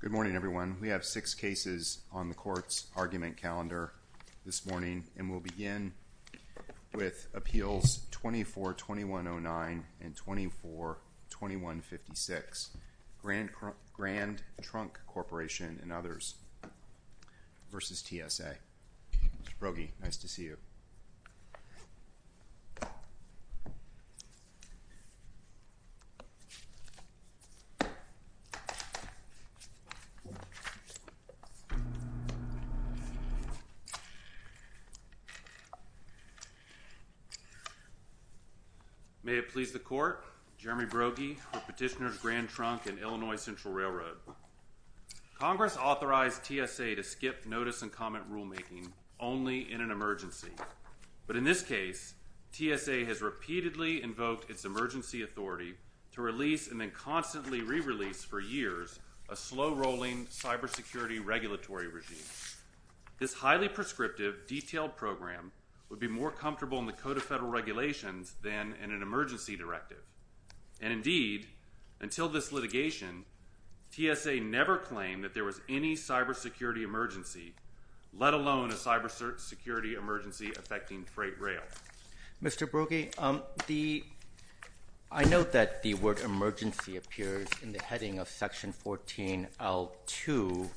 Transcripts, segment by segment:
Good morning, everyone. We have six cases on the Court's argument calendar this morning, and we'll begin with Appeals 24-2109 and 24-2156, Grand Trunk Corporation and others v. TSA. Mr. Brogy, nice to see you. May it please the Court, Jeremy Brogy with Petitioners Grand Trunk and Illinois Central Railroad. Congress authorized TSA to skip notice and comment rulemaking only in an emergency, but in this case, TSA has repeatedly invoked its emergency authority to release and then constantly re-release for years a slow-rolling cybersecurity regulatory regime. This highly prescriptive, detailed program would be more comfortable in the Code of Federal that there was any cybersecurity emergency, let alone a cybersecurity emergency affecting freight rail. Mr. Brogy, I note that the word emergency appears in the heading of Section 14.L.2,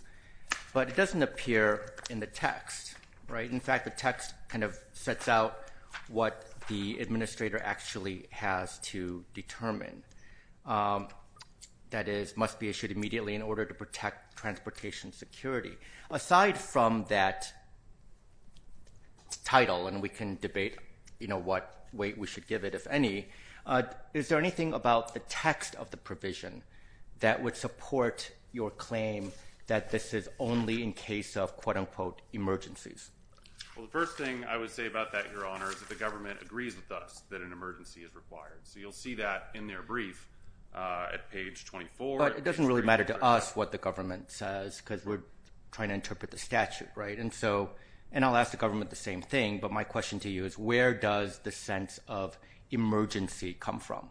but it doesn't appear in the text, right? In fact, the text kind of sets out what the administrator actually has to determine. That is, must be issued immediately in order to protect transportation security. Aside from that title, and we can debate, you know, what way we should give it, if any, is there anything about the text of the provision that would support your claim that this is only in case of, quote-unquote, emergencies? Well, the first thing I would say about that, Your Honor, is that the government agrees with us that an emergency is required. So, you'll see that in their brief at page 24. But it doesn't really matter to us what the government says, because we're trying to interpret the statute, right? And so, and I'll ask the government the same thing, but my question to you is, where does the sense of emergency come from?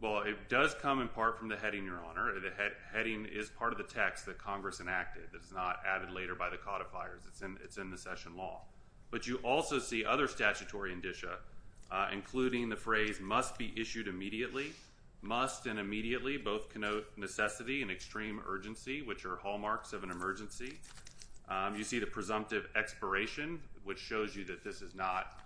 Well, it does come in part from the heading, Your Honor. The heading is part of the text that Congress enacted that is not added later by the codifiers. It's in the session law. But you also see other statutory indicia, including the phrase, must be issued immediately. Must and immediately both connote necessity and extreme urgency, which are hallmarks of an emergency. You see the presumptive expiration, which shows you that this is not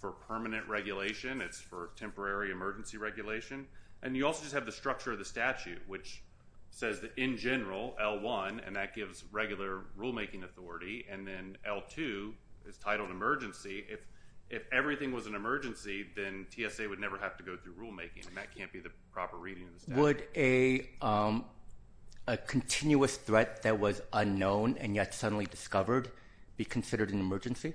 for permanent regulation. It's for temporary emergency regulation. And you also just have the structure of the statute, which says that, in general, L1, and that gives regular rulemaking authority, and then L2 is titled emergency. If everything was an emergency, then TSA would never have to go through rulemaking, and that can't be the proper reading of the statute. Would a continuous threat that was unknown and yet suddenly discovered be considered an emergency?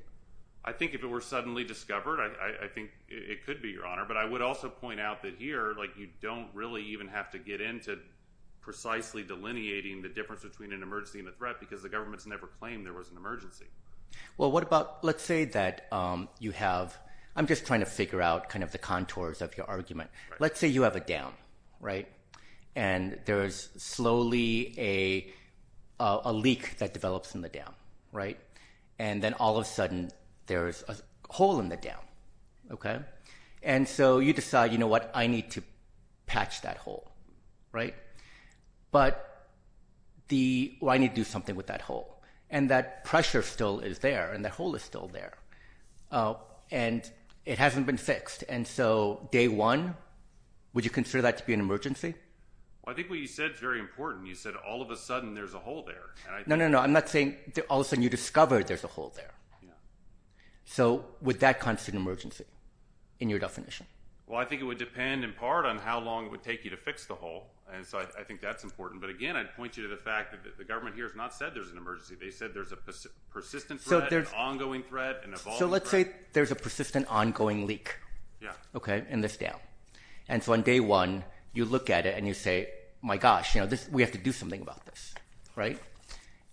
I think if it were suddenly discovered, I think it could be, Your Honor. But I would also point out that here, like, you don't really even have to get into precisely delineating the difference between an emergency and a threat, because the government's never claimed there was an emergency. Well, what about, let's say that you have, I'm just trying to figure out kind of the contours of your argument. Let's say you have a dam, right? And there's slowly a leak that develops in the dam, right? And then all of a sudden, there's a hole in the dam, okay? And so you decide, you know what, I need to patch that hole, right? But the, well, I need to do something with that hole. And that pressure still is there, and that hole is still there. And it hasn't been fixed. And so, day one, would you consider that to be an emergency? Well, I think what you said is very important. You said, all of a sudden, there's a hole there. No, no, no. I'm not saying, all of a sudden, you discovered there's a hole there. So would that constitute an emergency in your definition? Well, I think it would depend in part on how long it would take you to fix the hole. And so I think that's important. But again, I'd point you to the fact that the government here has not said there's an emergency. They said there's a persistent threat, an ongoing threat, an evolving threat. So let's say there's a persistent, ongoing leak, okay, in this dam. And so on day one, you look at it and you say, my gosh, you know, we have to do something about this, right?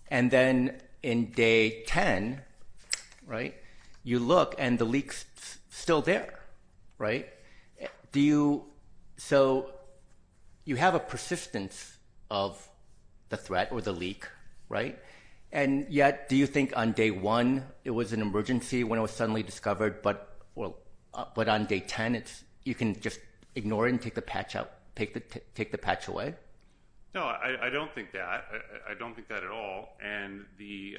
And then in day 10, right, you look and the leak's still there, right? Do you, so you have a persistence of the threat or the leak, right? And yet, do you think on day one, it was an emergency when it was suddenly discovered, but on day 10, you can just ignore it and take the patch out, take the patch away? No, I don't think that. I don't think that at all. And the,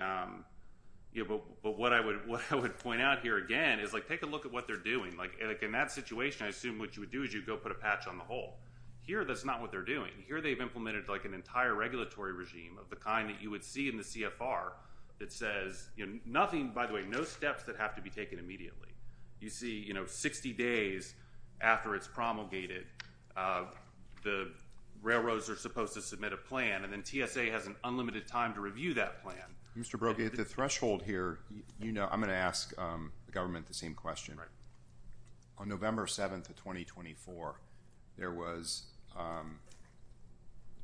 you know, but what I would point out here again is, like, take a look at what they're doing. Like, in that situation, I assume what you would do is you'd go put a patch on the hole. Here, that's not what they're doing. Here, they've implemented, like, an entire regulatory regime of the kind that you would see in the CFR that says, you know, nothing, by the way, no steps that have to be taken immediately. You see, you know, 60 days after it's promulgated, the railroads are supposed to submit a plan, and then TSA has an unlimited time to review that plan. Mr. Brody, at the threshold here, you know, I'm going to ask the government the same question. On November 7th of 2024, there was,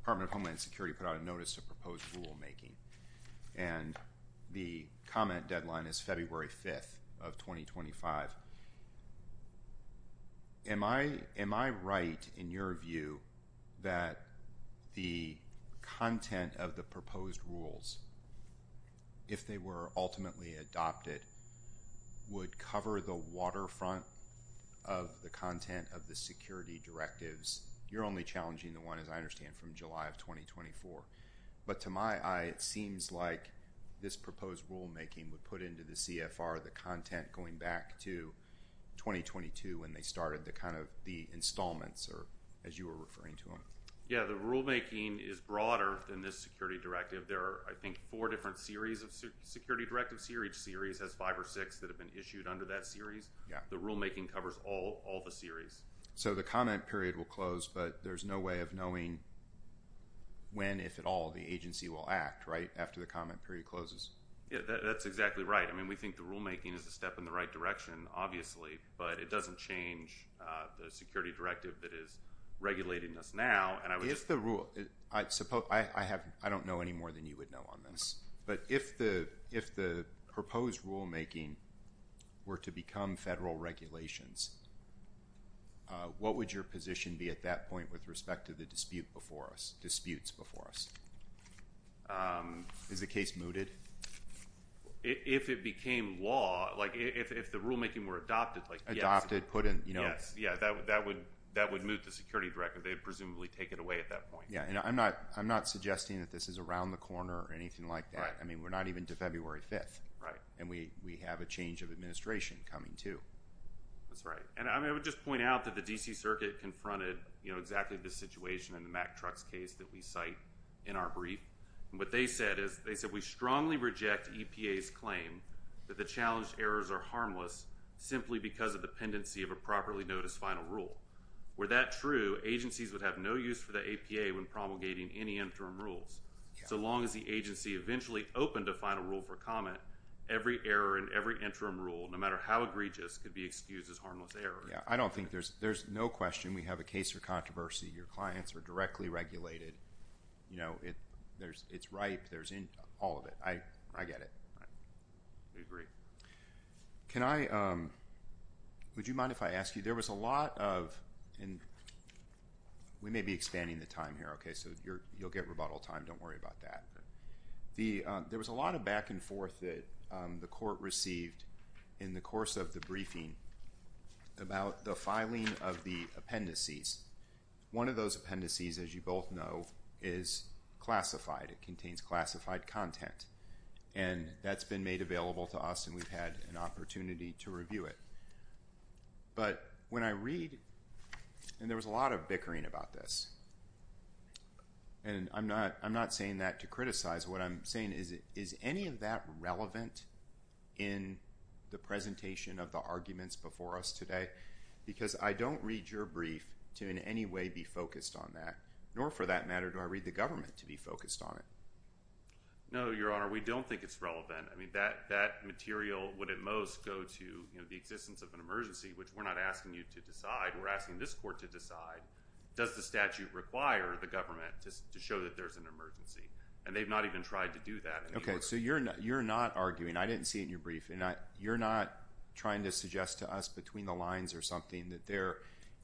Department of Homeland Security put out a notice of proposed rulemaking, and the comment deadline is February 5th of 2025. Am I right in your view that the content of the proposed rules, if they were ultimately adopted, would cover the waterfront of the content of the security directives? You're only challenging the one, as I understand, from July of 2024. But to my eye, it seems like this proposed rulemaking would put into the CFR the content going back to 2022 when they started the kind of the installments, or as you were referring to them. Yeah, the rulemaking is broader than this security directive. There are, I think, four different series of security directives. Each series has five or six that have been issued under that series. Yeah. The rulemaking covers all the series. So the comment period will close, but there's no way of knowing when, if at all, the agency will act, right, after the comment period closes? Yeah, that's exactly right. I mean, we think the rulemaking is a step in the right direction, obviously, but it doesn't change the security directive that is regulating us now. And I would just... If the rule, I don't know any more than you would know on this, but if the proposed rulemaking were to become federal regulations, what would your position be at that point with respect to the dispute before us, disputes before us? Is the case mooted? If it became law, like if the rulemaking were adopted, like... Adopted, put in, you know... Yes. Yeah, that would move the security directive. They would presumably take it away at that point. Yeah. And I'm not suggesting that this is around the corner or anything like that. I mean, we're not even to February 5th. Right. And we have a change of administration coming, too. That's right. And I would just point out that the D.C. Circuit confronted, you know, exactly the situation in the Mack trucks case that we cite in our brief. What they said is, they said, we strongly reject EPA's claim that the challenged errors are harmless simply because of dependency of a properly noticed final rule. Were that true, agencies would have no use for the APA when promulgating any interim rules. Yeah. So long as the agency eventually opened a final rule for comment, every error in every interim rule, no matter how egregious, could be excused as harmless error. Yeah. I don't think there's... There's no question we have a case for controversy. Your clients are directly regulated. You know, it's right. There's all of it. I get it. I agree. Can I... Would you mind if I ask you, there was a lot of... And we may be expanding the time here. OK. So you'll get rebuttal time. Don't worry about that. There was a lot of back and forth that the court received in the course of the briefing about the filing of the appendices. One of those appendices, as you both know, is classified. It contains classified content. And that's been made available to us, and we've had an opportunity to review it. But when I read, and there was a lot of bickering about this, and I'm not saying that to criticize, what I'm saying is, is any of that relevant in the presentation of the arguments before us today? Because I don't read your brief to in any way be focused on that, nor for that matter, do I read the government to be focused on it. No, Your Honor. We don't think it's relevant. I mean, that material would at most go to, you know, the existence of an emergency, which we're not asking you to decide. We're asking this court to decide, does the statute require the government to show that there's an emergency? And they've not even tried to do that. OK. So you're not arguing. I didn't see it in your brief. You're not trying to suggest to us between the lines or something that there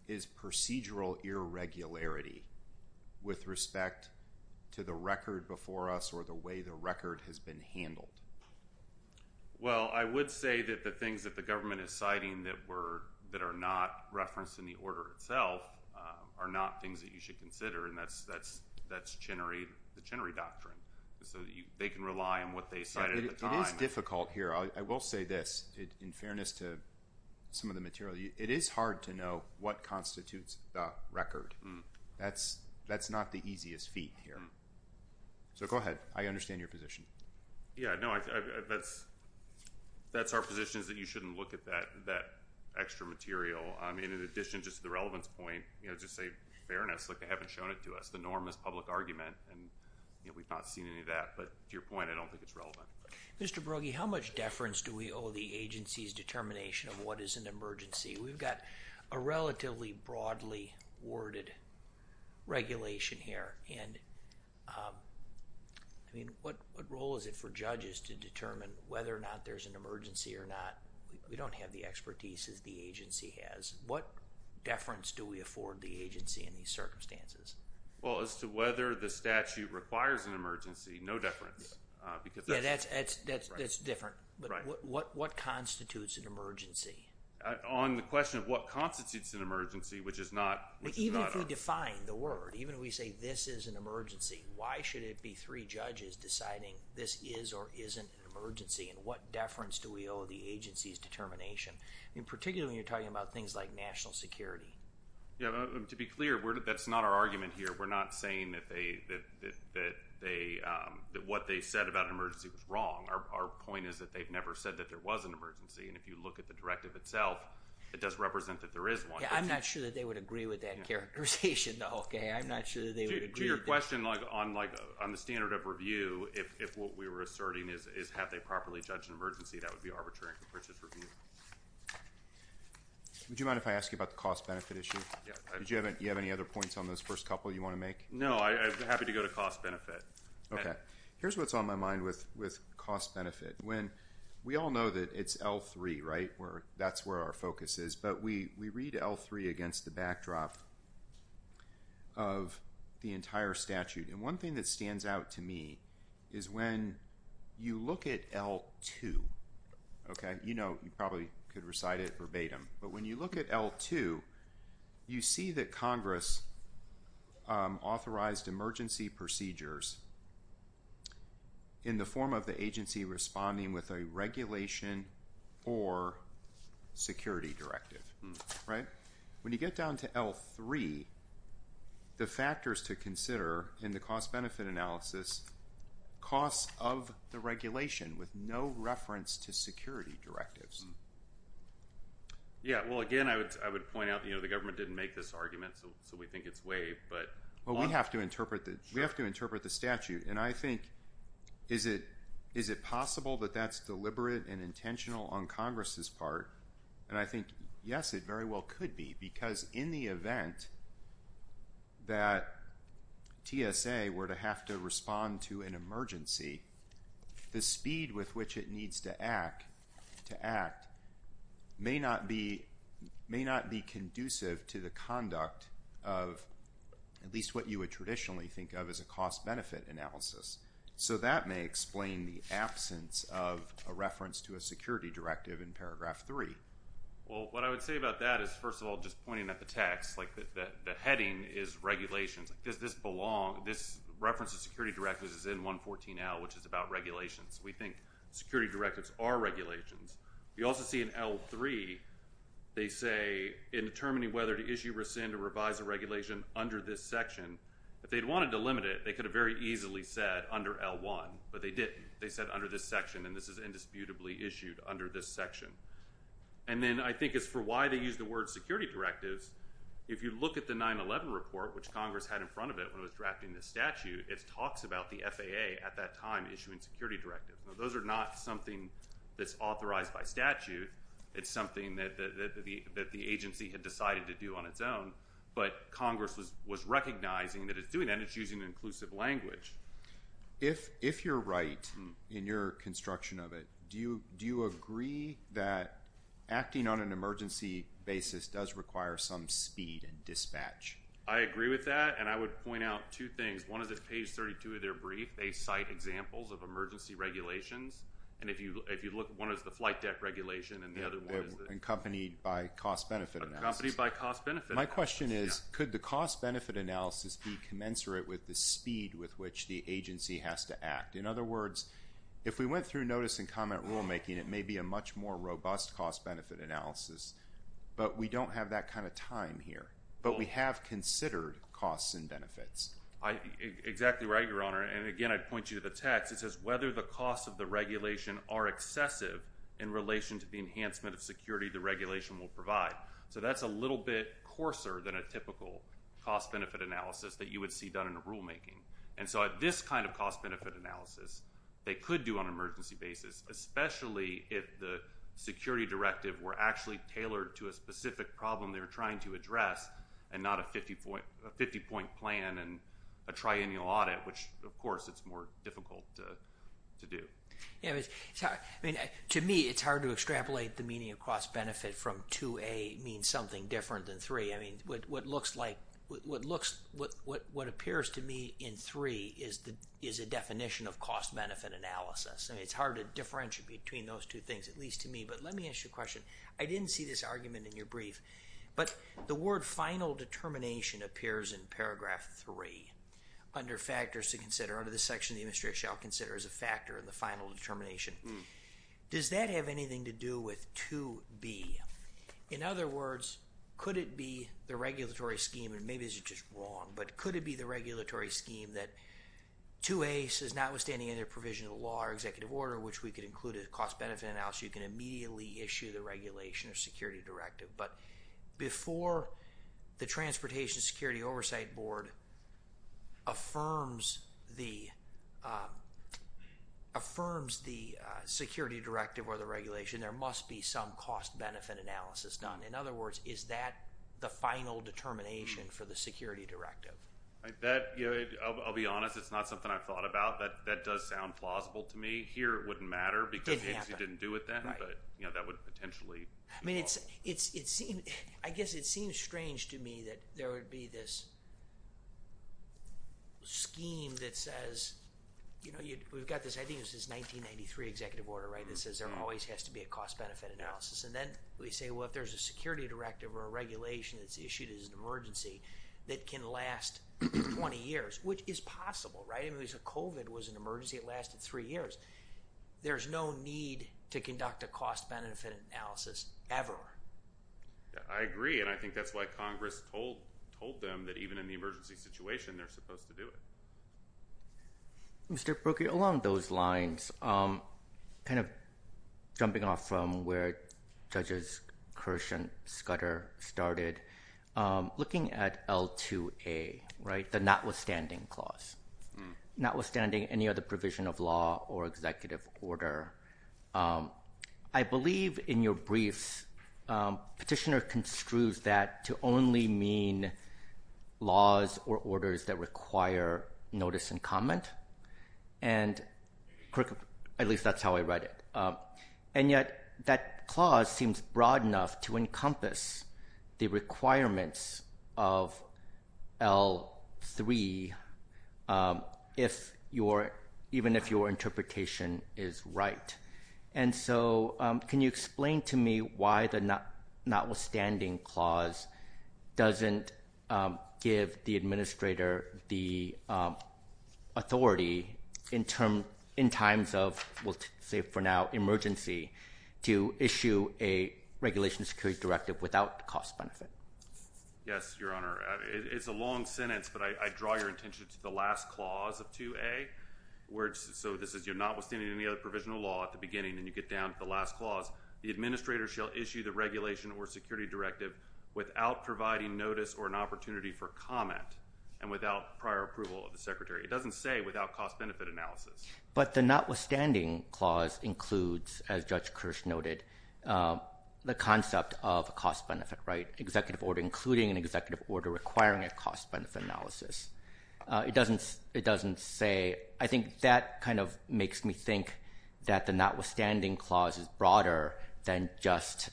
is procedural irregularity with respect to the record before us or the way the record has been handled? Well, I would say that the things that the government is citing that were, that are not referenced in the order itself are not things that you should consider, and that's Chenery, the Chenery Doctrine, so they can rely on what they said at the time. It is difficult here. I will say this, in fairness to some of the material, it is hard to know what constitutes the record. That's not the easiest feat here. So go ahead. I understand your position. Yeah. No, that's our position is that you shouldn't look at that extra material. I mean, in addition just to the relevance point, you know, just say fairness, like they haven't shown it to us. The norm is public argument, and, you know, we've not seen any of that. But to your point, I don't think it's relevant. Mr. Brogy, how much deference do we owe the agency's determination of what is an emergency? We've got a relatively broadly worded regulation here, and, I mean, what role is it for judges to determine whether or not there's an emergency or not? We don't have the expertise as the agency has. What deference do we afford the agency in these circumstances? Well, as to whether the statute requires an emergency, no deference. Yeah, that's different. But what constitutes an emergency? On the question of what constitutes an emergency, which is not a... Even if we define the word, even if we say this is an emergency, why should it be three judges deciding this is or isn't an emergency, and what deference do we owe the agency's determination? In particular, when you're talking about things like national security. Yeah. To be clear, that's not our argument here. We're not saying that what they said about an emergency was wrong. Our point is that they've never said that there was an emergency, and if you look at the directive itself, it does represent that there is one. Yeah, I'm not sure that they would agree with that characterization, though, okay? I'm not sure that they would agree. To your question, like, on the standard of review, if what we were asserting is have they properly judged an emergency, that would be arbitrary and can purchase review. Would you mind if I ask you about the cost-benefit issue? Yeah. Do you have any other points on those first couple that you want to make? No, I'm happy to go to cost-benefit. Okay. Here's what's on my mind with cost-benefit. When we all know that it's L3, right, where that's where our focus is, but we read L3 against the backdrop of the entire statute, and one thing that stands out to me is when you look at L2, okay? You know, you probably could recite it verbatim, but when you look at L2, you see that Congress authorized emergency procedures in the form of the agency responding with a regulation or security directive, right? When you get down to L3, the factors to consider in the cost-benefit analysis, costs of the regulation with no reference to security directives. Yeah. Well, again, I would point out, you know, the government didn't make this argument, so we think it's waived, but. Well, we have to interpret the statute, and I think, is it possible that that's deliberate and intentional on Congress's part? And I think, yes, it very well could be, because in the event that TSA were to have to respond to an emergency, the speed with which it needs to act, may not be conducive to the conduct of at least what you would traditionally think of as a cost-benefit analysis, so that may explain the absence of a reference to a security directive in Paragraph 3. Well, what I would say about that is, first of all, just pointing at the text, like the heading is regulations. Like, does this belong, this reference to security directives is in 114L, which is about regulations. We think security directives are regulations. We also see in L3, they say, in determining whether to issue, rescind, or revise a regulation under this section, if they'd wanted to limit it, they could have very easily said under L1, but they didn't. They said under this section, and this is indisputably issued under this section. And then, I think as for why they used the word security directives, if you look at the 9-11 report, which Congress had in front of it when it was drafting this statute, it talks about the FAA at that time issuing security directives. Those are not something that's authorized by statute. It's something that the agency had decided to do on its own, but Congress was recognizing that it's doing that, and it's using inclusive language. If you're right in your construction of it, do you agree that acting on an emergency basis does require some speed and dispatch? I agree with that, and I would point out two things. One is at page 32 of their brief, they cite examples of emergency regulations, and if you look, one is the flight deck regulation, and the other one is the- Accompanied by cost-benefit analysis. Accompanied by cost-benefit analysis, yeah. My question is, could the cost-benefit analysis be commensurate with the speed with which the agency has to act? In other words, if we went through notice and comment rulemaking, it may be a much more robust cost-benefit analysis, but we don't have that kind of time here, but we have considered costs and benefits. Exactly right, Your Honor, and again, I point you to the text. It says, whether the costs of the regulation are excessive in relation to the enhancement of security the regulation will provide. So that's a little bit coarser than a typical cost-benefit analysis that you would see done in a rulemaking. And so at this kind of cost-benefit analysis, they could do on an emergency basis, especially if the security directive were actually tailored to a specific problem they were trying to address and not a 50-point plan and a triennial audit, which, of course, it's more difficult to do. Yeah, I mean, to me, it's hard to extrapolate the meaning of cost-benefit from 2A means something different than 3. I mean, what looks like, what appears to me in 3 is a definition of cost-benefit analysis, and it's hard to differentiate between those two things, at least to me. But let me ask you a question. I didn't see this argument in your brief, but the word final determination appears in paragraph 3 under factors to consider under the section of the administration I'll consider as a factor in the final determination. Does that have anything to do with 2B? In other words, could it be the regulatory scheme, and maybe this is just wrong, but could it be the regulatory scheme that 2A says notwithstanding any provision of law or executive order, which we could include a cost-benefit analysis, you can immediately issue the regulation or security directive. But before the Transportation Security Oversight Board affirms the security directive or the regulation, there must be some cost-benefit analysis done. In other words, is that the final determination for the security directive? That, you know, I'll be honest, it's not something I've thought about. That does sound plausible to me. Here, it wouldn't matter because the agency didn't do it then, but, you know, that would potentially be false. I mean, I guess it seems strange to me that there would be this scheme that says, you know, we've got this, I think this is 1993 executive order, right, that says there always has to be a cost-benefit analysis. And then we say, well, if there's a security directive or a regulation that's issued as an emergency that can last 20 years, which is possible, right? I mean, if COVID was an emergency, it lasted three years. There's no need to conduct a cost-benefit analysis ever. I agree. And I think that's why Congress told them that even in the emergency situation, they're supposed to do it. Mr. Brookie, along those lines, kind of jumping off from where Judges Kirsch and Scudder started, looking at L2A, right, the notwithstanding clause, notwithstanding any other provision of law or executive order, I believe in your briefs, Petitioner construes that to only mean laws or orders that require notice and comment, and at least that's how I read it, and yet that clause seems broad enough to encompass the requirements of L3, even if your interpretation is right. And so can you explain to me why the notwithstanding clause doesn't give the administrator the authority in terms, in times of, we'll say for now, emergency to issue a regulation security directive without cost-benefit? Yes, Your Honor, it's a long sentence, but I draw your attention to the last clause of 2A, where it's, so this is, you're notwithstanding any other provision of law at the beginning, and you get down to the last clause, the administrator shall issue the regulation or security directive without providing notice or an opportunity for comment, and without prior approval of the secretary. It doesn't say without cost-benefit analysis. But the notwithstanding clause includes, as Judge Kirsch noted, the concept of a cost-benefit, right, executive order, including an executive order requiring a cost-benefit analysis. It doesn't say, I think that kind of makes me think that the notwithstanding clause is broader than just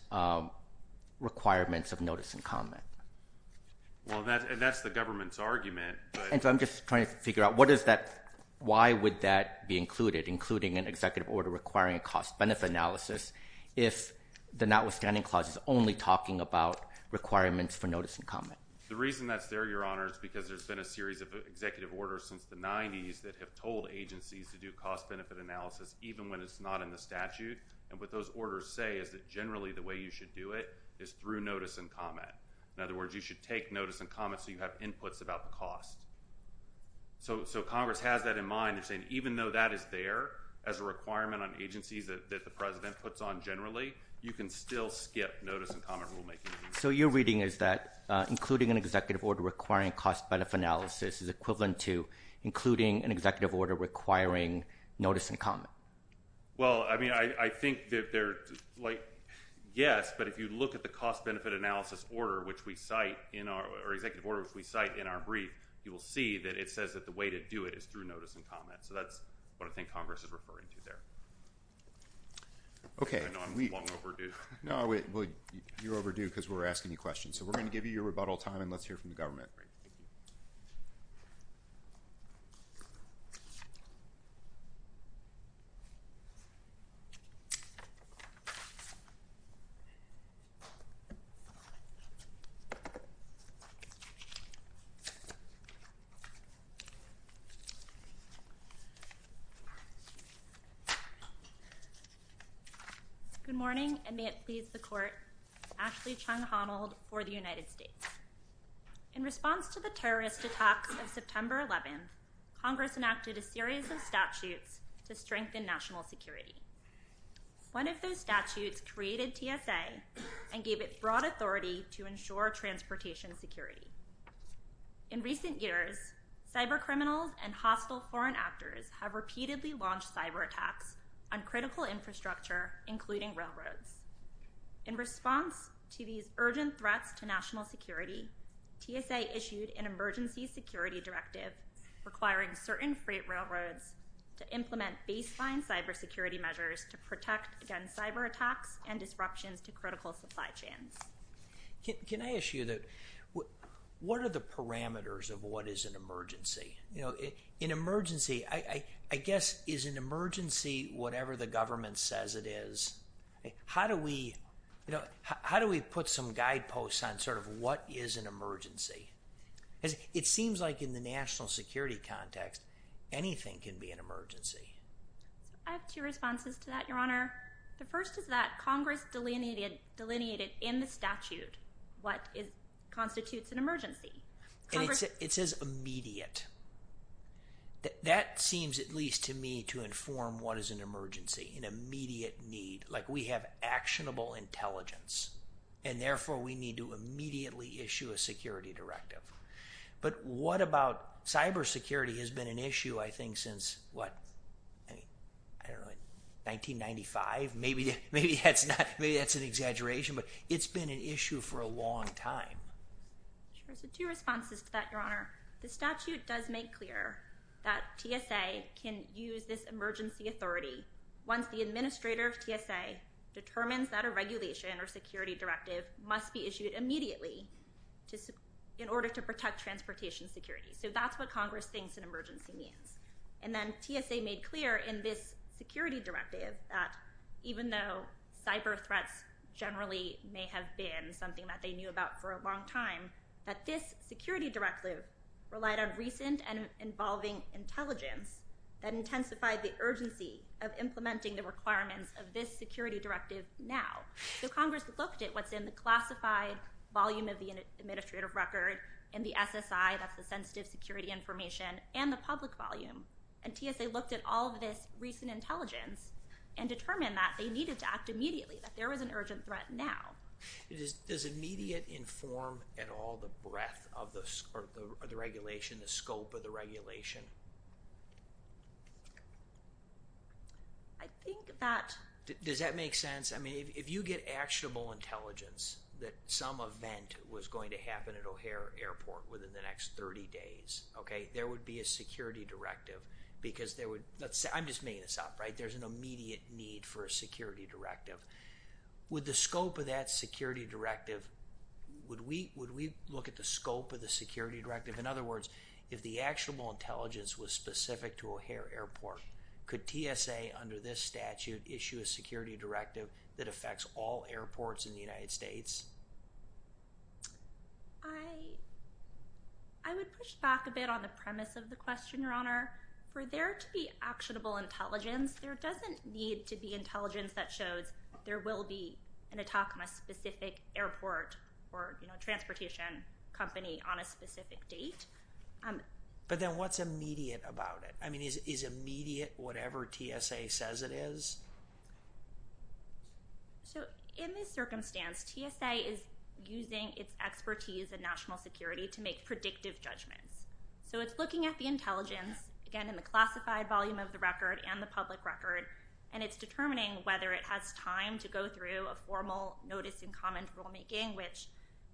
requirements of notice and comment. Well, that's the government's argument, but. And so I'm just trying to figure out what is that, why would that be included, including an executive order requiring a cost-benefit analysis if the notwithstanding clause is only talking about requirements for notice and comment? The reason that's there, Your Honor, is because there's been a series of executive orders since the 90s that have told agencies to do cost-benefit analysis even when it's not in the statute, and what those orders say is that generally the way you should do it is through notice and comment. In other words, you should take notice and comment so you have inputs about the cost. So Congress has that in mind. They're saying even though that is there as a requirement on agencies that the President puts on generally, you can still skip notice and comment rulemaking. So your reading is that including an executive order requiring cost-benefit analysis is equivalent to including an executive order requiring notice and comment. Well, I mean, I think that there, like, yes, but if you look at the cost-benefit analysis order which we cite in our, or executive order which we cite in our brief, you will see that it says that the way to do it is through notice and comment. So that's what I think Congress is referring to there. Okay. I know I'm long overdue. No, you're overdue because we're asking you questions. So we're going to give you your rebuttal time and let's hear from the government. Good morning, and may it please the court, Ashley Chung-Honald for the United States. In response to the terrorist attack of September 11th, Congress enacted a series of statutes to strengthen national security. One of those statutes created TSA and gave it broad authority to ensure transportation security. In recent years, cyber criminals and hostile foreign actors have repeatedly launched cyber attacks on critical infrastructure, including railroads. In response to these urgent threats to national security, TSA issued an emergency security directive requiring certain freight railroads to implement baseline cyber security measures to protect against cyber attacks and disruptions to critical supply chains. Can I ask you, what are the parameters of what is an emergency? You know, an emergency, I guess, is an emergency whatever the government says it is. How do we, you know, how do we put some guideposts on sort of what is an emergency? Because it seems like in the national security context, anything can be an emergency. I have two responses to that, Your Honor. The first is that Congress delineated in the statute what constitutes an emergency. Congress. And it says immediate. That seems at least to me to inform what is an emergency, an immediate need. Like we have actionable intelligence, and therefore we need to immediately issue a security directive. But what about cyber security has been an issue, I think, since what, I don't know, 1995? Maybe that's not, maybe that's an exaggeration, but it's been an issue for a long time. Sure. So two responses to that, Your Honor. The statute does make clear that TSA can use this emergency authority once the administrator of TSA determines that a regulation or security directive must be issued immediately in order to protect transportation security. So that's what Congress thinks an emergency means. And then TSA made clear in this security directive that even though cyber threats generally may have been something that they knew about for a long time, that this security directive relied on recent and involving intelligence that intensified the urgency of implementing the requirements of this security directive now. So Congress looked at what's in the classified volume of the administrative record and the SSI, that's the sensitive security information, and the public volume. And TSA looked at all of this recent intelligence and determined that they needed to act immediately, that there was an urgent threat now. Does immediate inform at all the breadth of the regulation, the scope of the regulation? I think that. Does that make sense? I mean, if you get actionable intelligence that some event was going to happen at O'Hare Airport within the next 30 days, okay, there would be a security directive because there would, let's say, I'm just making this up, right? There's an immediate need for a security directive. Would the scope of that security directive, would we look at the scope of the security directive? In other words, if the actionable intelligence was specific to O'Hare Airport, could TSA under this statute issue a security directive that affects all airports in the United States? I would push back a bit on the premise of the question, Your Honor. For there to be actionable intelligence, there doesn't need to be intelligence that shows there will be an attack on a specific airport or transportation company on a specific date. But then what's immediate about it? I mean, is immediate whatever TSA says it is? So in this circumstance, TSA is using its expertise in national security to make predictive judgments. So it's looking at the intelligence, again, in the classified volume of the record and the public record, and it's determining whether it has time to go through a formal notice in common rulemaking, which,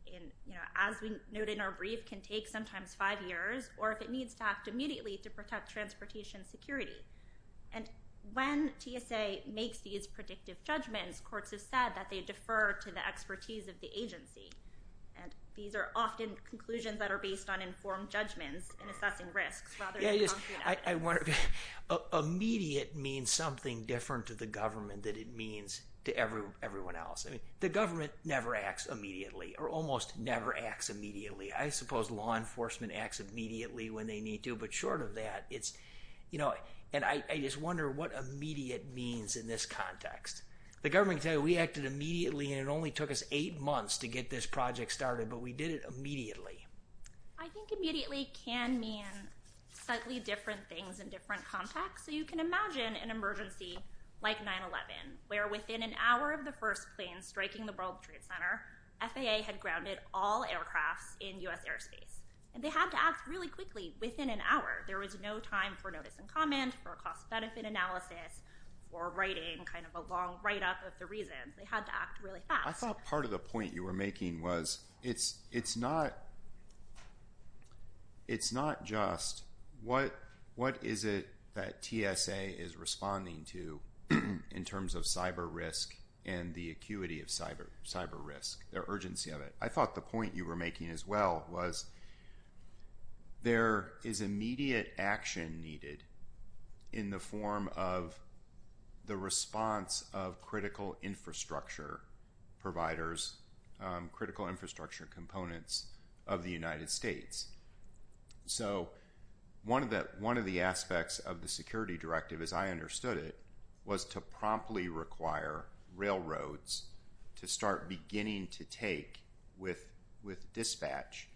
you know, as we noted in our brief, can take sometimes five years, or if it needs to act immediately to protect transportation security. And when TSA makes these predictive judgments, courts have said that they defer to the expertise of the agency, and these are often conclusions that are based on informed judgments and assessing risks rather than confident evidence. Immediate means something different to the government than it means to everyone else. I mean, the government never acts immediately, or almost never acts immediately. I suppose law enforcement acts immediately when they need to. But short of that, it's, you know, and I just wonder what immediate means in this context. The government can tell you we acted immediately, and it only took us eight months to get this project started, but we did it immediately. I think immediately can mean slightly different things in different contexts. So you can imagine an emergency like 9-11, where within an hour of the first plane striking the World Trade Center, FAA had grounded all aircrafts in U.S. airspace. And they had to act really quickly, within an hour. There was no time for notice and comment, for cost-benefit analysis, or writing kind of a long write-up of the reasons. They had to act really fast. I thought part of the point you were making was it's not just what is it that TSA is responding to in terms of cyber risk and the acuity of cyber risk, the urgency of it. I thought the point you were making as well was there is immediate action needed in the form of the response of critical infrastructure providers, critical infrastructure components of the United States. So one of the aspects of the security directive, as I understood it, was to promptly require railroads to start beginning to take, with dispatch,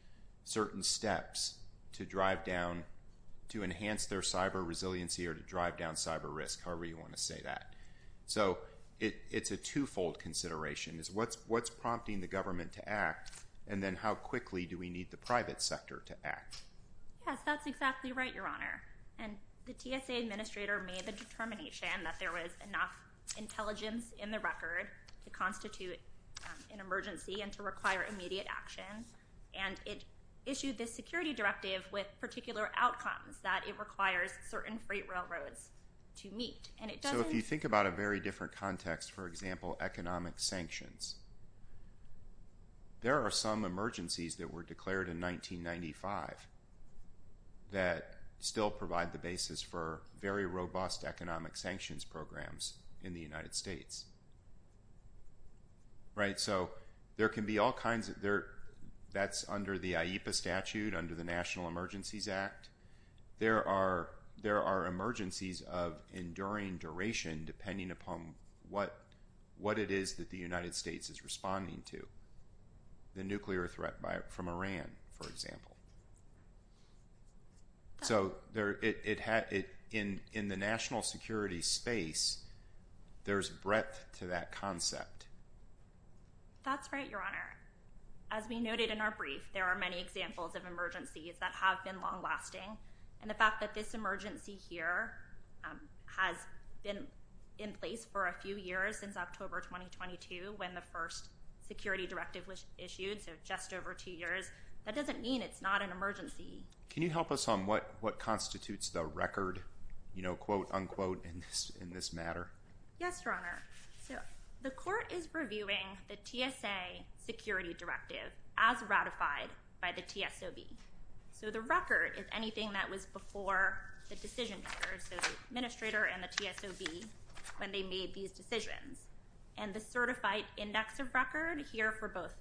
certain steps to drive down, to enhance their cyber resiliency or to drive down cyber risk, however you want to say that. So it's a two-fold consideration, is what's prompting the government to act, and then how quickly do we need the private sector to act? Yes, that's exactly right, Your Honor, and the TSA administrator made the determination that there was enough intelligence in the record to constitute an emergency and to require immediate action, and it issued this security directive with particular outcomes that it requires certain freight railroads to meet, and it doesn't. So if you think about a very different context, for example, economic sanctions, there are some emergencies that were declared in 1995 that still provide the basis for very robust economic sanctions programs in the United States, right? So there can be all kinds of, that's under the IEPA statute, under the National Emergencies Act, there are emergencies of enduring duration, depending upon what it is that the United States is responding to, the nuclear threat from Iran, for example. So in the national security space, there's breadth to that concept. That's right, Your Honor. As we noted in our brief, there are many examples of emergencies that have been long-lasting, and the fact that this emergency here has been in place for a few years since October 2022 when the first security directive was issued, so just over two years, that doesn't mean it's not an emergency. Can you help us on what constitutes the record, you know, quote, unquote, in this matter? Yes, Your Honor. So the court is reviewing the TSA security directive as ratified by the TSOB. So the record is anything that was before the decision makers, so the administrator and the TSOB, when they made these decisions. And the certified index of record here for both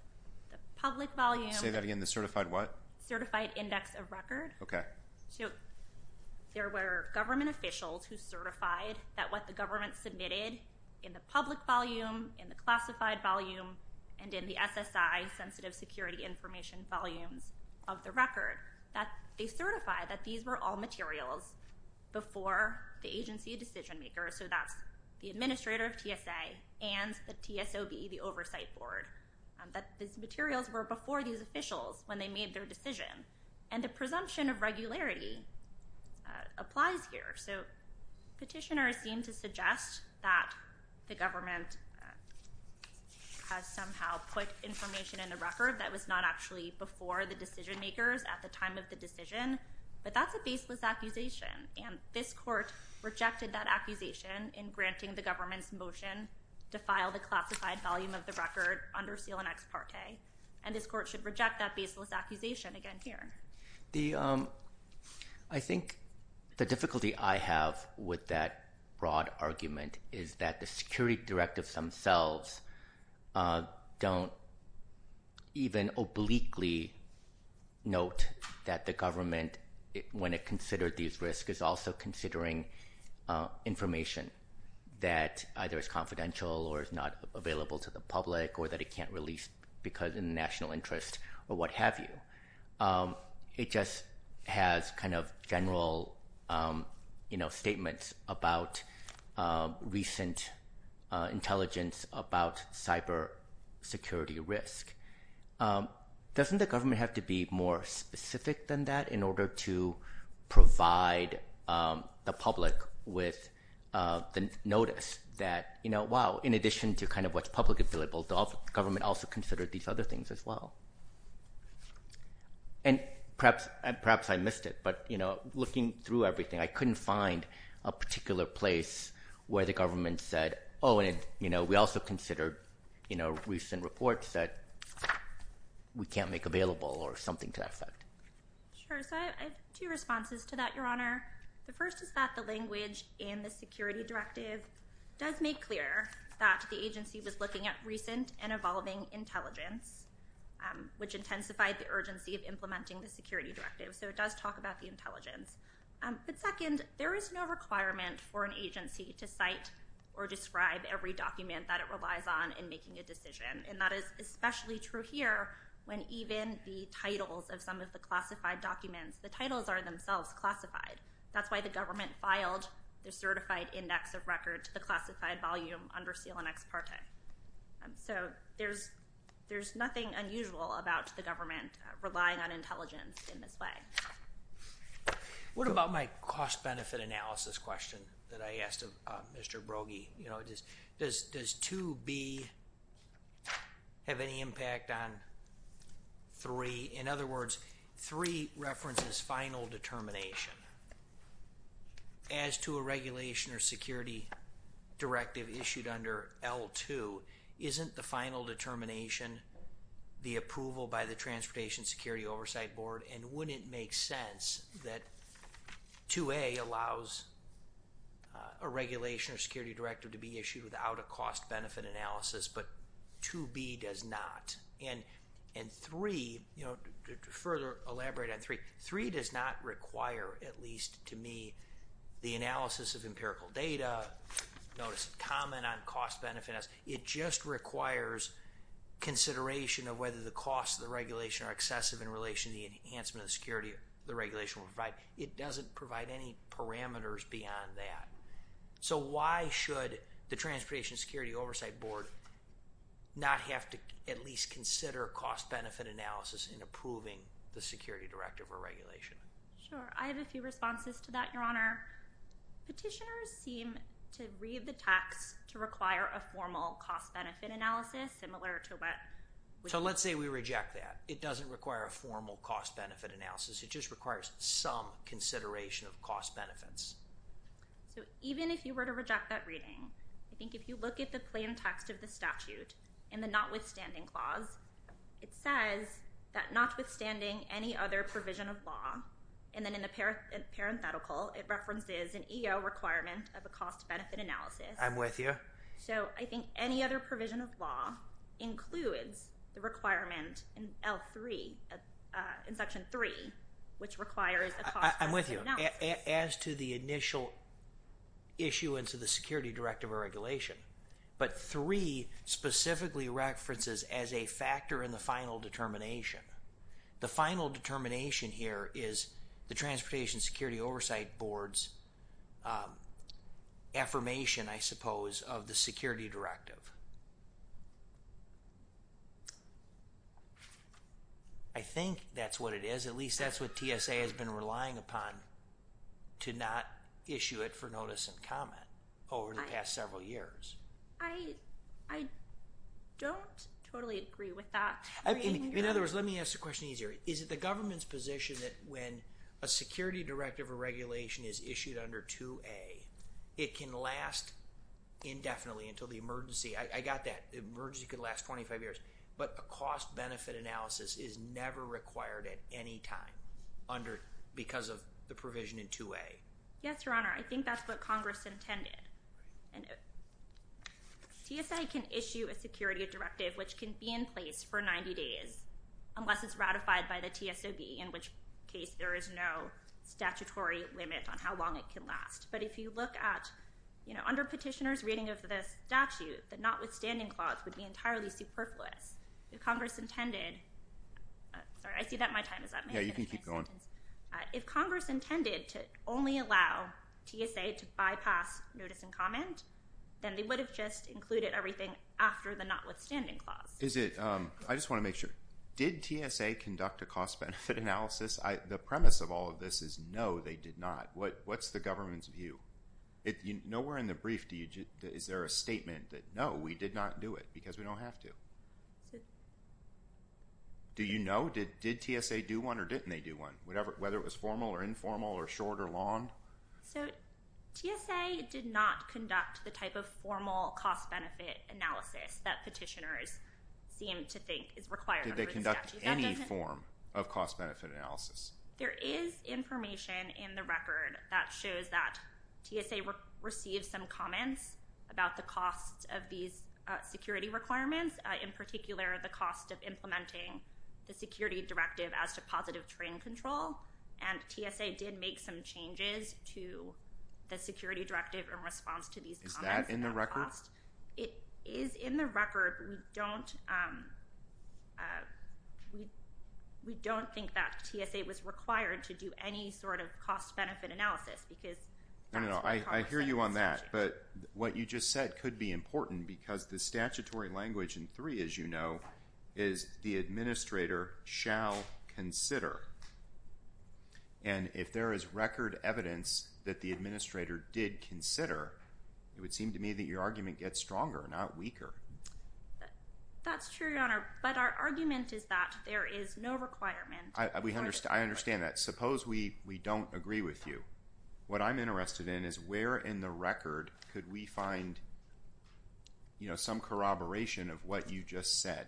the public volume. Say that again, the certified what? Certified index of record. Okay. So there were government officials who certified that what the government submitted in the public volume, in the classified volume, and in the SSI, sensitive security information volumes of the record, that they certified that these were all materials before the agency decision maker. So that's the administrator of TSA and the TSOB, the oversight board, that these materials were before these officials when they made their decision. And the presumption of regularity applies here. So petitioners seem to suggest that the government has somehow put information in the record that was not actually before the decision makers at the time of the decision. But that's a baseless accusation, and this court rejected that accusation in granting the government's motion to file the classified volume of the record under seal and ex parte. And this court should reject that baseless accusation again here. The, I think the difficulty I have with that broad argument is that the security directives themselves don't even obliquely note that the government, when it considered these risks, is also considering information that either is confidential or is not available to the public, or that it can't release because of national interest, or what have you. It just has kind of general, you know, statements about recent intelligence about cyber security risk. Doesn't the government have to be more specific than that in order to provide the public with the notice that, you know, wow, in addition to kind of what's public available, the government also considered these other things as well? And perhaps I missed it, but, you know, looking through everything, I couldn't find a particular place where the government said, oh, and, you know, we also considered, you know, recent reports that we can't make available or something to that effect. Sure. So I have two responses to that, Your Honor. The first is that the language in the security directive does make clear that the agency was looking at recent and evolving intelligence, which intensified the urgency of implementing the security directive, so it does talk about the intelligence. But second, there is no requirement for an agency to cite or describe every document that it relies on in making a decision, and that is especially true here when even the titles of some of the classified documents, the titles are themselves classified. That's why the government filed the certified index of record to the classified volume under seal and ex parte. So there's nothing unusual about the government relying on intelligence in this way. What about my cost-benefit analysis question that I asked of Mr. Brogy? You know, does 2B have any impact on 3? In other words, 3 references final determination as to a regulation or security directive issued under L2, isn't the final determination the approval by the Transportation Security Oversight Board? And wouldn't it make sense that 2A allows a regulation or security directive to be issued without a cost-benefit analysis, but 2B does not? And 3, you know, to further elaborate on 3, 3 does not require, at least to me, the analysis of empirical data, notice a comment on cost-benefit analysis. It just requires consideration of whether the costs of the regulation are excessive in relation to the enhancement of the security the regulation will provide. It doesn't provide any parameters beyond that. So why should the Transportation Security Oversight Board not have to at least consider cost-benefit analysis in approving the security directive or regulation? Sure. I have a few responses to that, Your Honor. Petitioners seem to read the text to require a formal cost-benefit analysis similar to what... So let's say we reject that. It doesn't require a formal cost-benefit analysis. It just requires some consideration of cost-benefits. So even if you were to reject that reading, I think if you look at the plain text of the statute in the notwithstanding clause, it says that notwithstanding any other provision of law and then in the parenthetical, it references an EO requirement of a cost-benefit analysis. I'm with you. So I think any other provision of law includes the requirement in L3, in Section 3, which requires a cost-benefit analysis. I'm with you. As to the initial issuance of the security directive or regulation, but 3 specifically references as a factor in the final determination. The final determination here is the Transportation Security Oversight Board's affirmation, I suppose, of the security directive. I think that's what it is. At least that's what TSA has been relying upon to not issue it for notice and comment over the past several years. I don't totally agree with that reading. In other words, let me ask the question easier. Is it the government's position that when a security directive or regulation is issued under 2A, it can last indefinitely until the emergency? I got that. The emergency could last 25 years, but a cost-benefit analysis is never required at any time because of the provision in 2A. Yes, Your Honor. I think that's what Congress intended. And TSA can issue a security directive which can be in place for 90 days unless it's ratified by the TSOB, in which case there is no statutory limit on how long it can last. But if you look at, you know, under petitioner's reading of the statute, the notwithstanding clause would be entirely superfluous. If Congress intended, sorry, I see that my time is up. May I finish my sentence? Yeah, you can keep going. If Congress intended to only allow TSA to bypass notice and comment, then they would have just included everything after the notwithstanding clause. Is it, I just want to make sure, did TSA conduct a cost-benefit analysis? The premise of all of this is no, they did not. What's the government's view? Nowhere in the brief is there a statement that no, we did not do it because we don't have to. Do you know, did TSA do one or didn't they do one? Whatever, whether it was formal or informal or short or long? So, TSA did not conduct the type of formal cost-benefit analysis that petitioners seem to think is required. Did they conduct any form of cost-benefit analysis? There is information in the record that shows that TSA received some comments about the cost of these security requirements, in particular, the cost of implementing the security directive as to positive train control. And TSA did make some changes to the security directive in response to these comments. Is that in the record? It is in the record. We don't think that TSA was required to do any sort of cost-benefit analysis because that's what Congress said. I hear you on that, but what you just said could be important because the statutory language in three, as you know, is the administrator shall consider. And if there is record evidence that the administrator did consider, it would seem to me that your argument gets stronger, not weaker. That's true, Your Honor, but our argument is that there is no requirement. I understand that. Suppose we don't agree with you. What I'm interested in is where in the record could we find, you know, some corroboration of what you just said,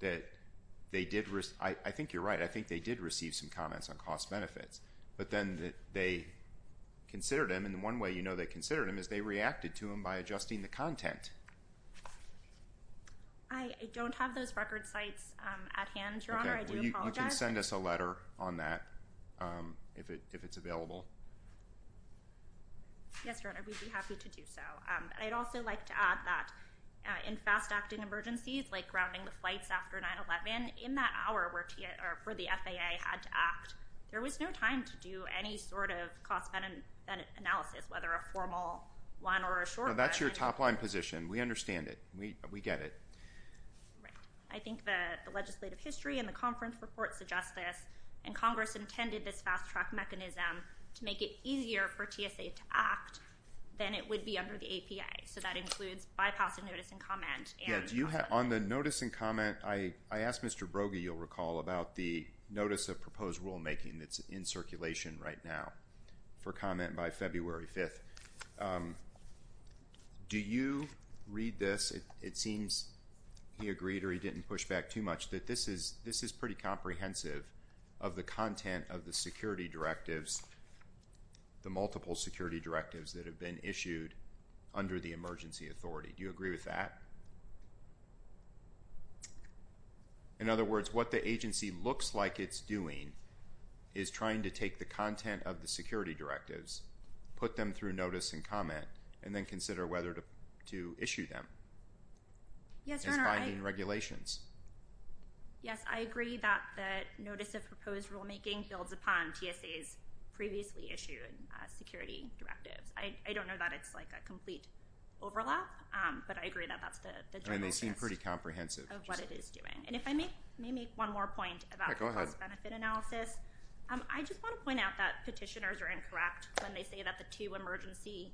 that they did, I think you're right, I think they did receive some comments on cost-benefits, but then they considered them. And the one way you know they considered them is they reacted to them by adjusting the content. I don't have those record sites at hand, Your Honor. I do apologize. You can send us a letter on that if it's available. Yes, Your Honor, we'd be happy to do so. I'd also like to add that in fast-acting emergencies like grounding the flights after 9-11, in that hour where the FAA had to act, there was no time to do any sort of cost-benefit analysis, whether a formal one or a short one. That's your top-line position. We understand it. We get it. Right. I think the legislative history and the conference report suggests this, and Congress intended this fast-track mechanism to make it easier for TSA to act than it would be under the APA. So that includes bypassing notice and comment. Yeah, on the notice and comment, I asked Mr. Brogy, you'll recall, about the notice of proposed rulemaking that's in circulation right now for comment by February 5th. Do you read this? It seems he agreed or he didn't push back too much that this is pretty comprehensive of the content of the security directives, the multiple security directives that have been issued under the emergency authority. Do you agree with that? In other words, what the agency looks like it's doing is trying to take the content of the security directives, put them through notice and comment, and then consider whether to issue them. Yes, I mean, regulations. Yes, I agree that the notice of proposed rulemaking builds upon TSA's previously issued security directives. I don't know that it's like a complete overlap, but I agree that that's the and they seem pretty comprehensive of what it is doing. And if I may, may make one more point about the cost benefit analysis. I just want to point out that petitioners are incorrect when they say that the two emergency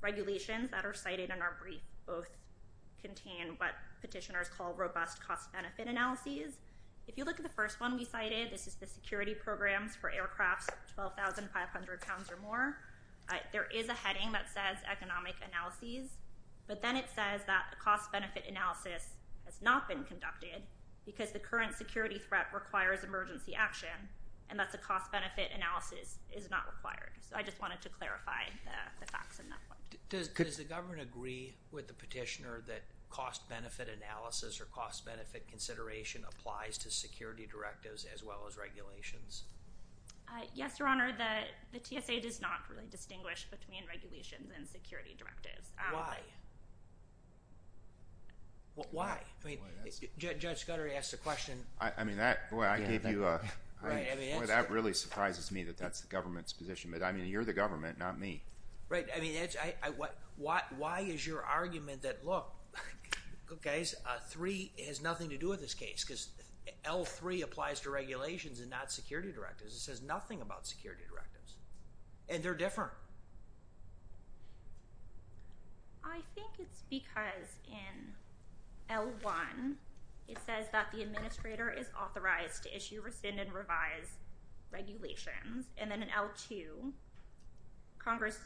regulations that are cited in our brief both contain what petitioners call robust cost benefit analyses. If you look at the first one we cited, this is the security programs for aircrafts, 12,500 pounds or more. There is a heading that says economic analyses, but then it says that the cost benefit analysis has not been conducted because the current security threat requires emergency action. And that's a cost benefit analysis is not required. So I just wanted to clarify the facts in that. Does the government agree with the petitioner that cost benefit analysis or cost benefit consideration applies to security directives as well as regulations? Yes, Your Honor, that the TSA does not really distinguish between regulations and security directives. Why? Why? I mean, Judge Scudery asked a question. I mean, that I gave you a right. I mean, that really surprises me that that's the government's position. But I mean, you're the government, not me. Right. I mean, I what why is your argument that look, guys, three has nothing to do with this case because L3 applies to regulations and not security directives. It says nothing about security directives and they're different. I think it's because in L1, it says that the administrator is authorized to issue, rescind and revise regulations, and then an L2 Congress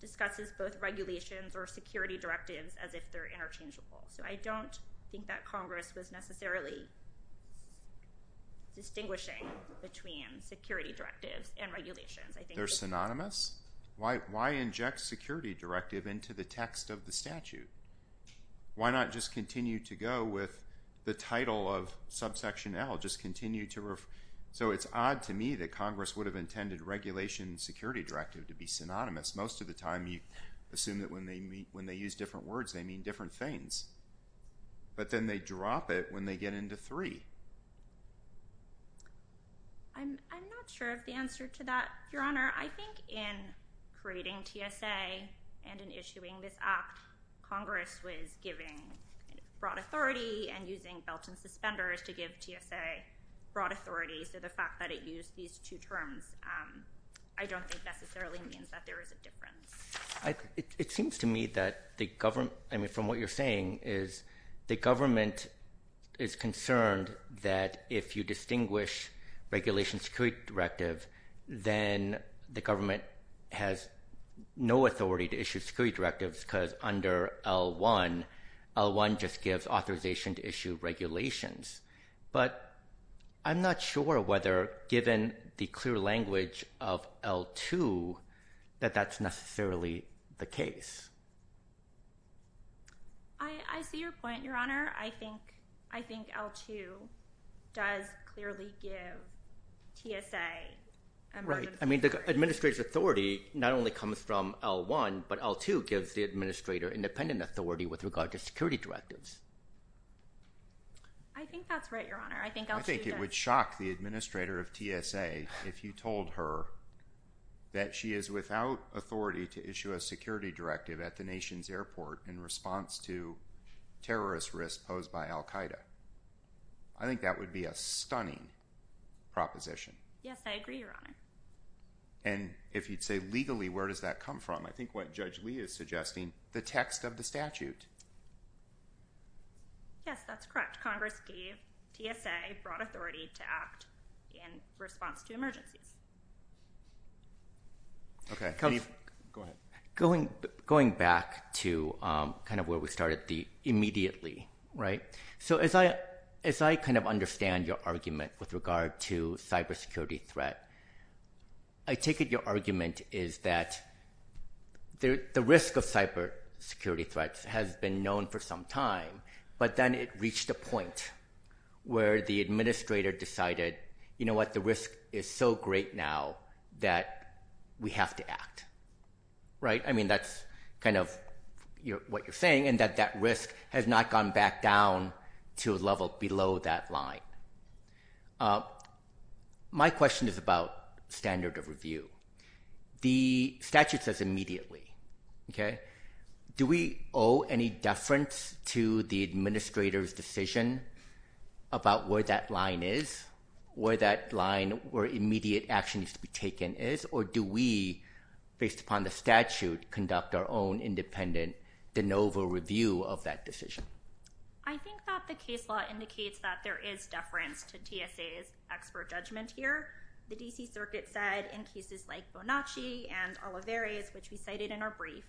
discusses both regulations or security directives as if they're interchangeable. So I don't think that Congress was necessarily. Distinguishing between security directives and regulations, I think they're synonymous. Why? Why inject security directive into the text of the statute? Why not just continue to go with the title of subsection L? Just continue to. So it's odd to me that Congress would have intended regulation security directive to be synonymous. Most of the time you assume that when they meet, when they use different words, they mean different things. But then they drop it when they get into three. I'm not sure of the answer to that, Your Honor. I think in creating TSA and in issuing this act, Congress was giving broad authority and using belt and suspenders to give TSA broad authority. So the fact that it used these two terms, I don't think necessarily means that there is a difference. I it seems to me that the government, I mean, from what you're saying is the government is concerned that if you distinguish regulation security directive, then the government has no authority to issue security directives because under L1, L1 just gives authorization to issue regulations. But I'm not sure whether given the clear language of L2 that that's necessarily the case. I see your point, Your Honor. I think I think L2 does clearly give TSA. Right. I mean, the administrator's authority not only comes from L1, but L2 gives the administrator independent authority with regard to security directives. I think that's right, Your Honor. I think I think it would shock the administrator of TSA if you told her that she is without authority to issue a security directive at the nation's airport in response to terrorist risk posed by al Qaeda. I think that would be a stunning proposition. Yes, I agree, Your Honor. And if you'd say legally, where does that come from? I think what Judge Lee is suggesting, the text of the statute. Yes, that's correct. Congress gave TSA broad authority to act in response to emergencies. OK, go ahead. Going going back to kind of where we started the immediately. Right. So as I as I kind of understand your argument with regard to cybersecurity threat, I take it your argument is that the risk of cybersecurity threats has been known for some time. But then it reached a point where the administrator decided, you know what, the risk is so great now that we have to act. Right. I mean, that's kind of what you're saying, and that that risk has not gone back down to a level below that line. My question is about standard of review. The statute says immediately, OK, do we owe any deference to the administrator's decision about where that line is, where that line, where immediate action is to be taken is, or do we, based upon the statute, conduct our own independent de novo review of that decision? I think that the case law indicates that there is deference to TSA's expert judgment here. The D.C. Circuit said in cases like Bonacci and Olivares, which we cited in our brief,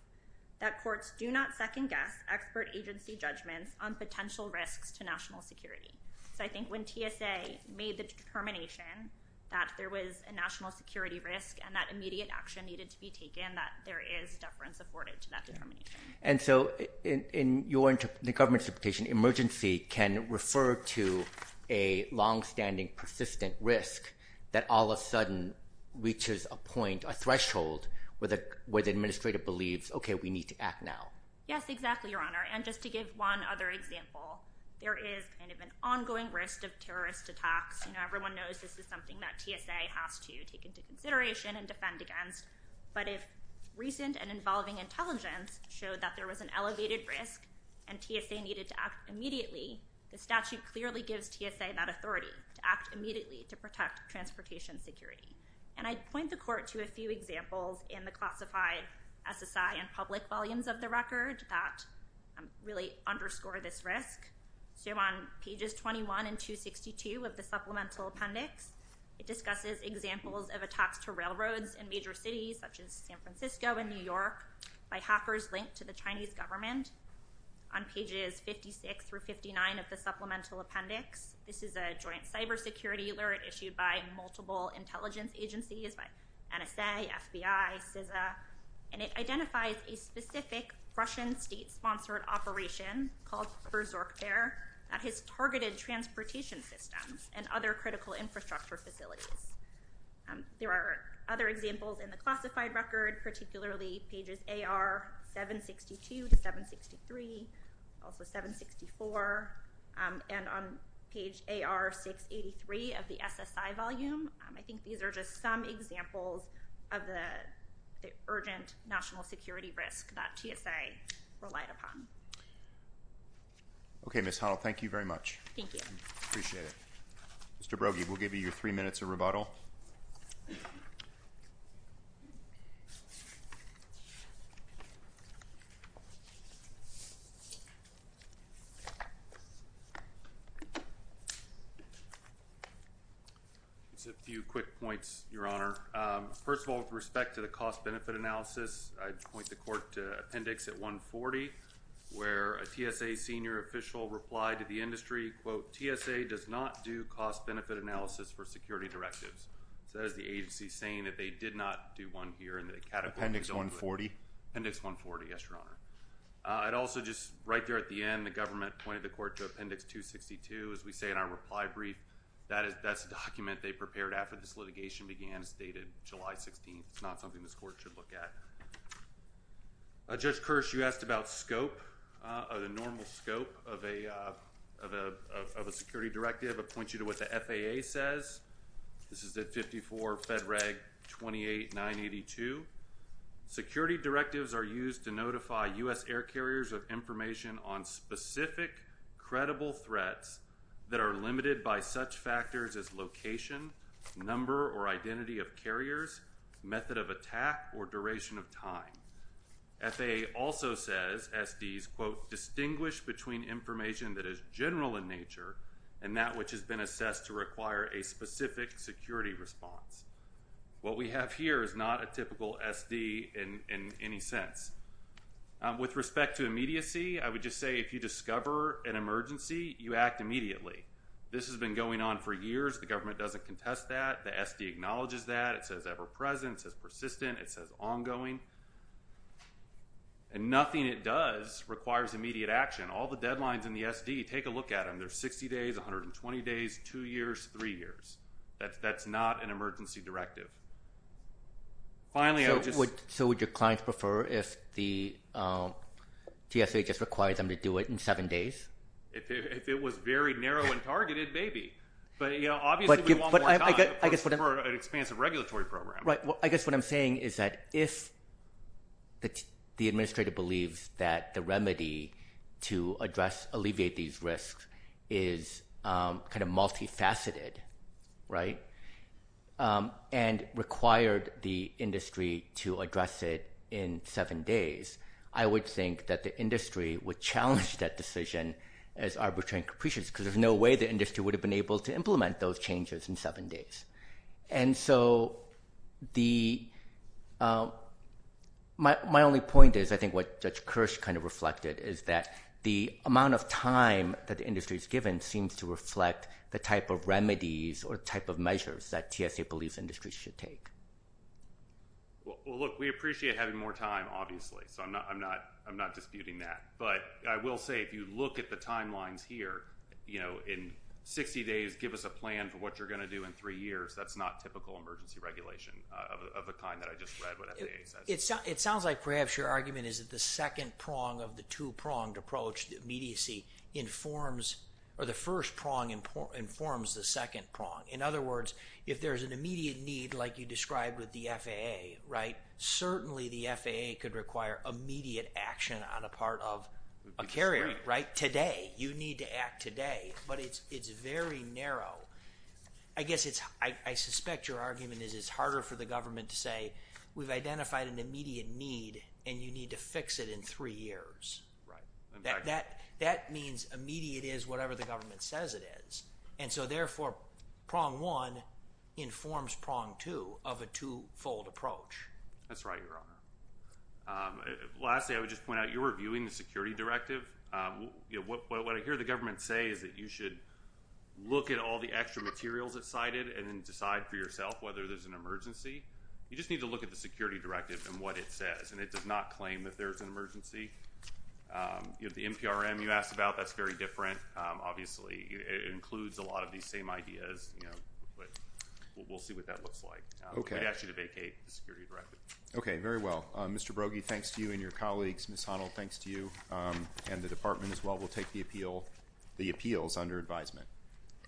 that courts do not second guess expert agency judgments on potential risks to national security. So I think when TSA made the determination that there was a national security risk and that immediate action needed to be taken, that there is deference afforded to that determination. And so in the government's interpretation, emergency can refer to a longstanding persistent risk that all of a sudden reaches a point, a threshold where the where the administrator believes, OK, we need to act now. Yes, exactly, Your Honor. And just to give one other example, there is kind of an ongoing risk of terrorist attacks. You know, everyone knows this is something that TSA has to take into consideration and defend against. But if recent and involving intelligence showed that there was an elevated risk and TSA needed to act immediately, the statute clearly gives TSA that authority to act immediately to protect transportation security. And I'd point the court to a few examples in the classified SSI and public volumes of the record that really underscore this risk. So on pages 21 and 262 of the supplemental appendix, it discusses examples of attacks to railroads and major cities such as San Francisco and New York by hackers linked to the Chinese government on pages 56 through 59 of the supplemental appendix. This is a joint cybersecurity alert issued by multiple intelligence agencies by NSA, FBI, CISA, and it identifies a specific Russian state sponsored operation called Berserk there that has targeted transportation systems and other critical infrastructure facilities. There are other examples in the classified record, particularly pages AR 762 to 763, also 764. And on page AR 683 of the SSI volume, I think these are just some examples of the urgent national security risk that TSA relied upon. OK, Miss Hall, thank you very much. Thank you. Appreciate it. Mr. Brody, we'll give you your three minutes of rebuttal. It's a few quick points, Your Honor. First of all, with respect to the cost benefit analysis, I'd point the court to Appendix 140, where a TSA senior official replied to the industry, quote, TSA does not do cost benefit analysis for security directives. So that is the agency saying that they did not do one here in the category. Appendix 140. Appendix 140. Yes, Your Honor. I'd also just right there at the end, the government pointed the court to Appendix 262, as we say in our reply brief. That is that's a document they prepared after this litigation began. It's dated July 16th. It's not something this court should look at. Judge Kirsch, you asked about scope of the normal scope of a of a of a security directive. I point you to what the FAA says. This is the 54 Fed Reg 28982. Security directives are used to notify U.S. air carriers of information on specific credible threats that are limited by such factors as location, number or identity of carriers, method of attack or duration of time. FAA also says SDs, quote, distinguish between information that is general in nature and that which has been assessed to require a specific security response. What we have here is not a typical SD in any sense. With respect to immediacy, I would just say if you discover an emergency, you act immediately. This has been going on for years. The government doesn't contest that. The SD acknowledges that. It says ever present, it says persistent, it says ongoing. And nothing it does requires immediate action. All the deadlines in the SD, take a look at them. They're 60 days, 120 days, two years, three years. That's that's not an emergency directive. Finally, I would just. So would your clients prefer if the GSA just requires them to do it in seven days? If it was very narrow and targeted, maybe. But, you know, obviously, we want more time for an expansive regulatory program. Right. Well, I guess what I'm saying is that if. That the administrator believes that the remedy to address alleviate these risks is kind of multifaceted. Right. And required the industry to address it in seven days. I would think that the industry would challenge that decision as arbitrary capricious, because there's no way the industry would have been able to implement those changes in seven days. And so the. My only point is, I think what Judge Kirsch kind of reflected is that the amount of time that the industry is given seems to reflect the type of remedies or type of measures that GSA believes industry should take. Well, look, we appreciate having more time, obviously. So I'm not I'm not I'm not disputing that. But I will say, if you look at the timelines here, you know, in 60 days, give us a plan for what you're going to do in three years. That's not typical emergency regulation of the kind that I just read. It's it sounds like perhaps your argument is that the second prong of the two pronged approach, the immediacy informs or the first prong informs the second prong. In other words, if there's an immediate need, like you described with the FAA, right, certainly the FAA could require immediate action on a part of a carrier right today. You need to act today. But it's it's very narrow. I guess it's I suspect your argument is it's harder for the government to say we've identified an immediate need and you need to fix it in three years. Right. That that that means immediate is whatever the government says it is. And so therefore, prong one informs prong two of a two fold approach. That's right, Your Honor. Lastly, I would just point out you're reviewing the security directive. You know what I hear the government say is that you should look at all the extra materials that cited and then decide for yourself whether there's an emergency. You just need to look at the security directive and what it says. And it does not claim that there's an emergency. The NPRM you asked about, that's very different. Obviously, it includes a lot of these same ideas, you know, but we'll see what that looks like. OK, actually to vacate the security directive. OK, very well. Mr. Brogy, thanks to you and your colleagues, Ms. Honnell, thanks to you and the department as well. We'll take the appeal. The appeal is under advisement.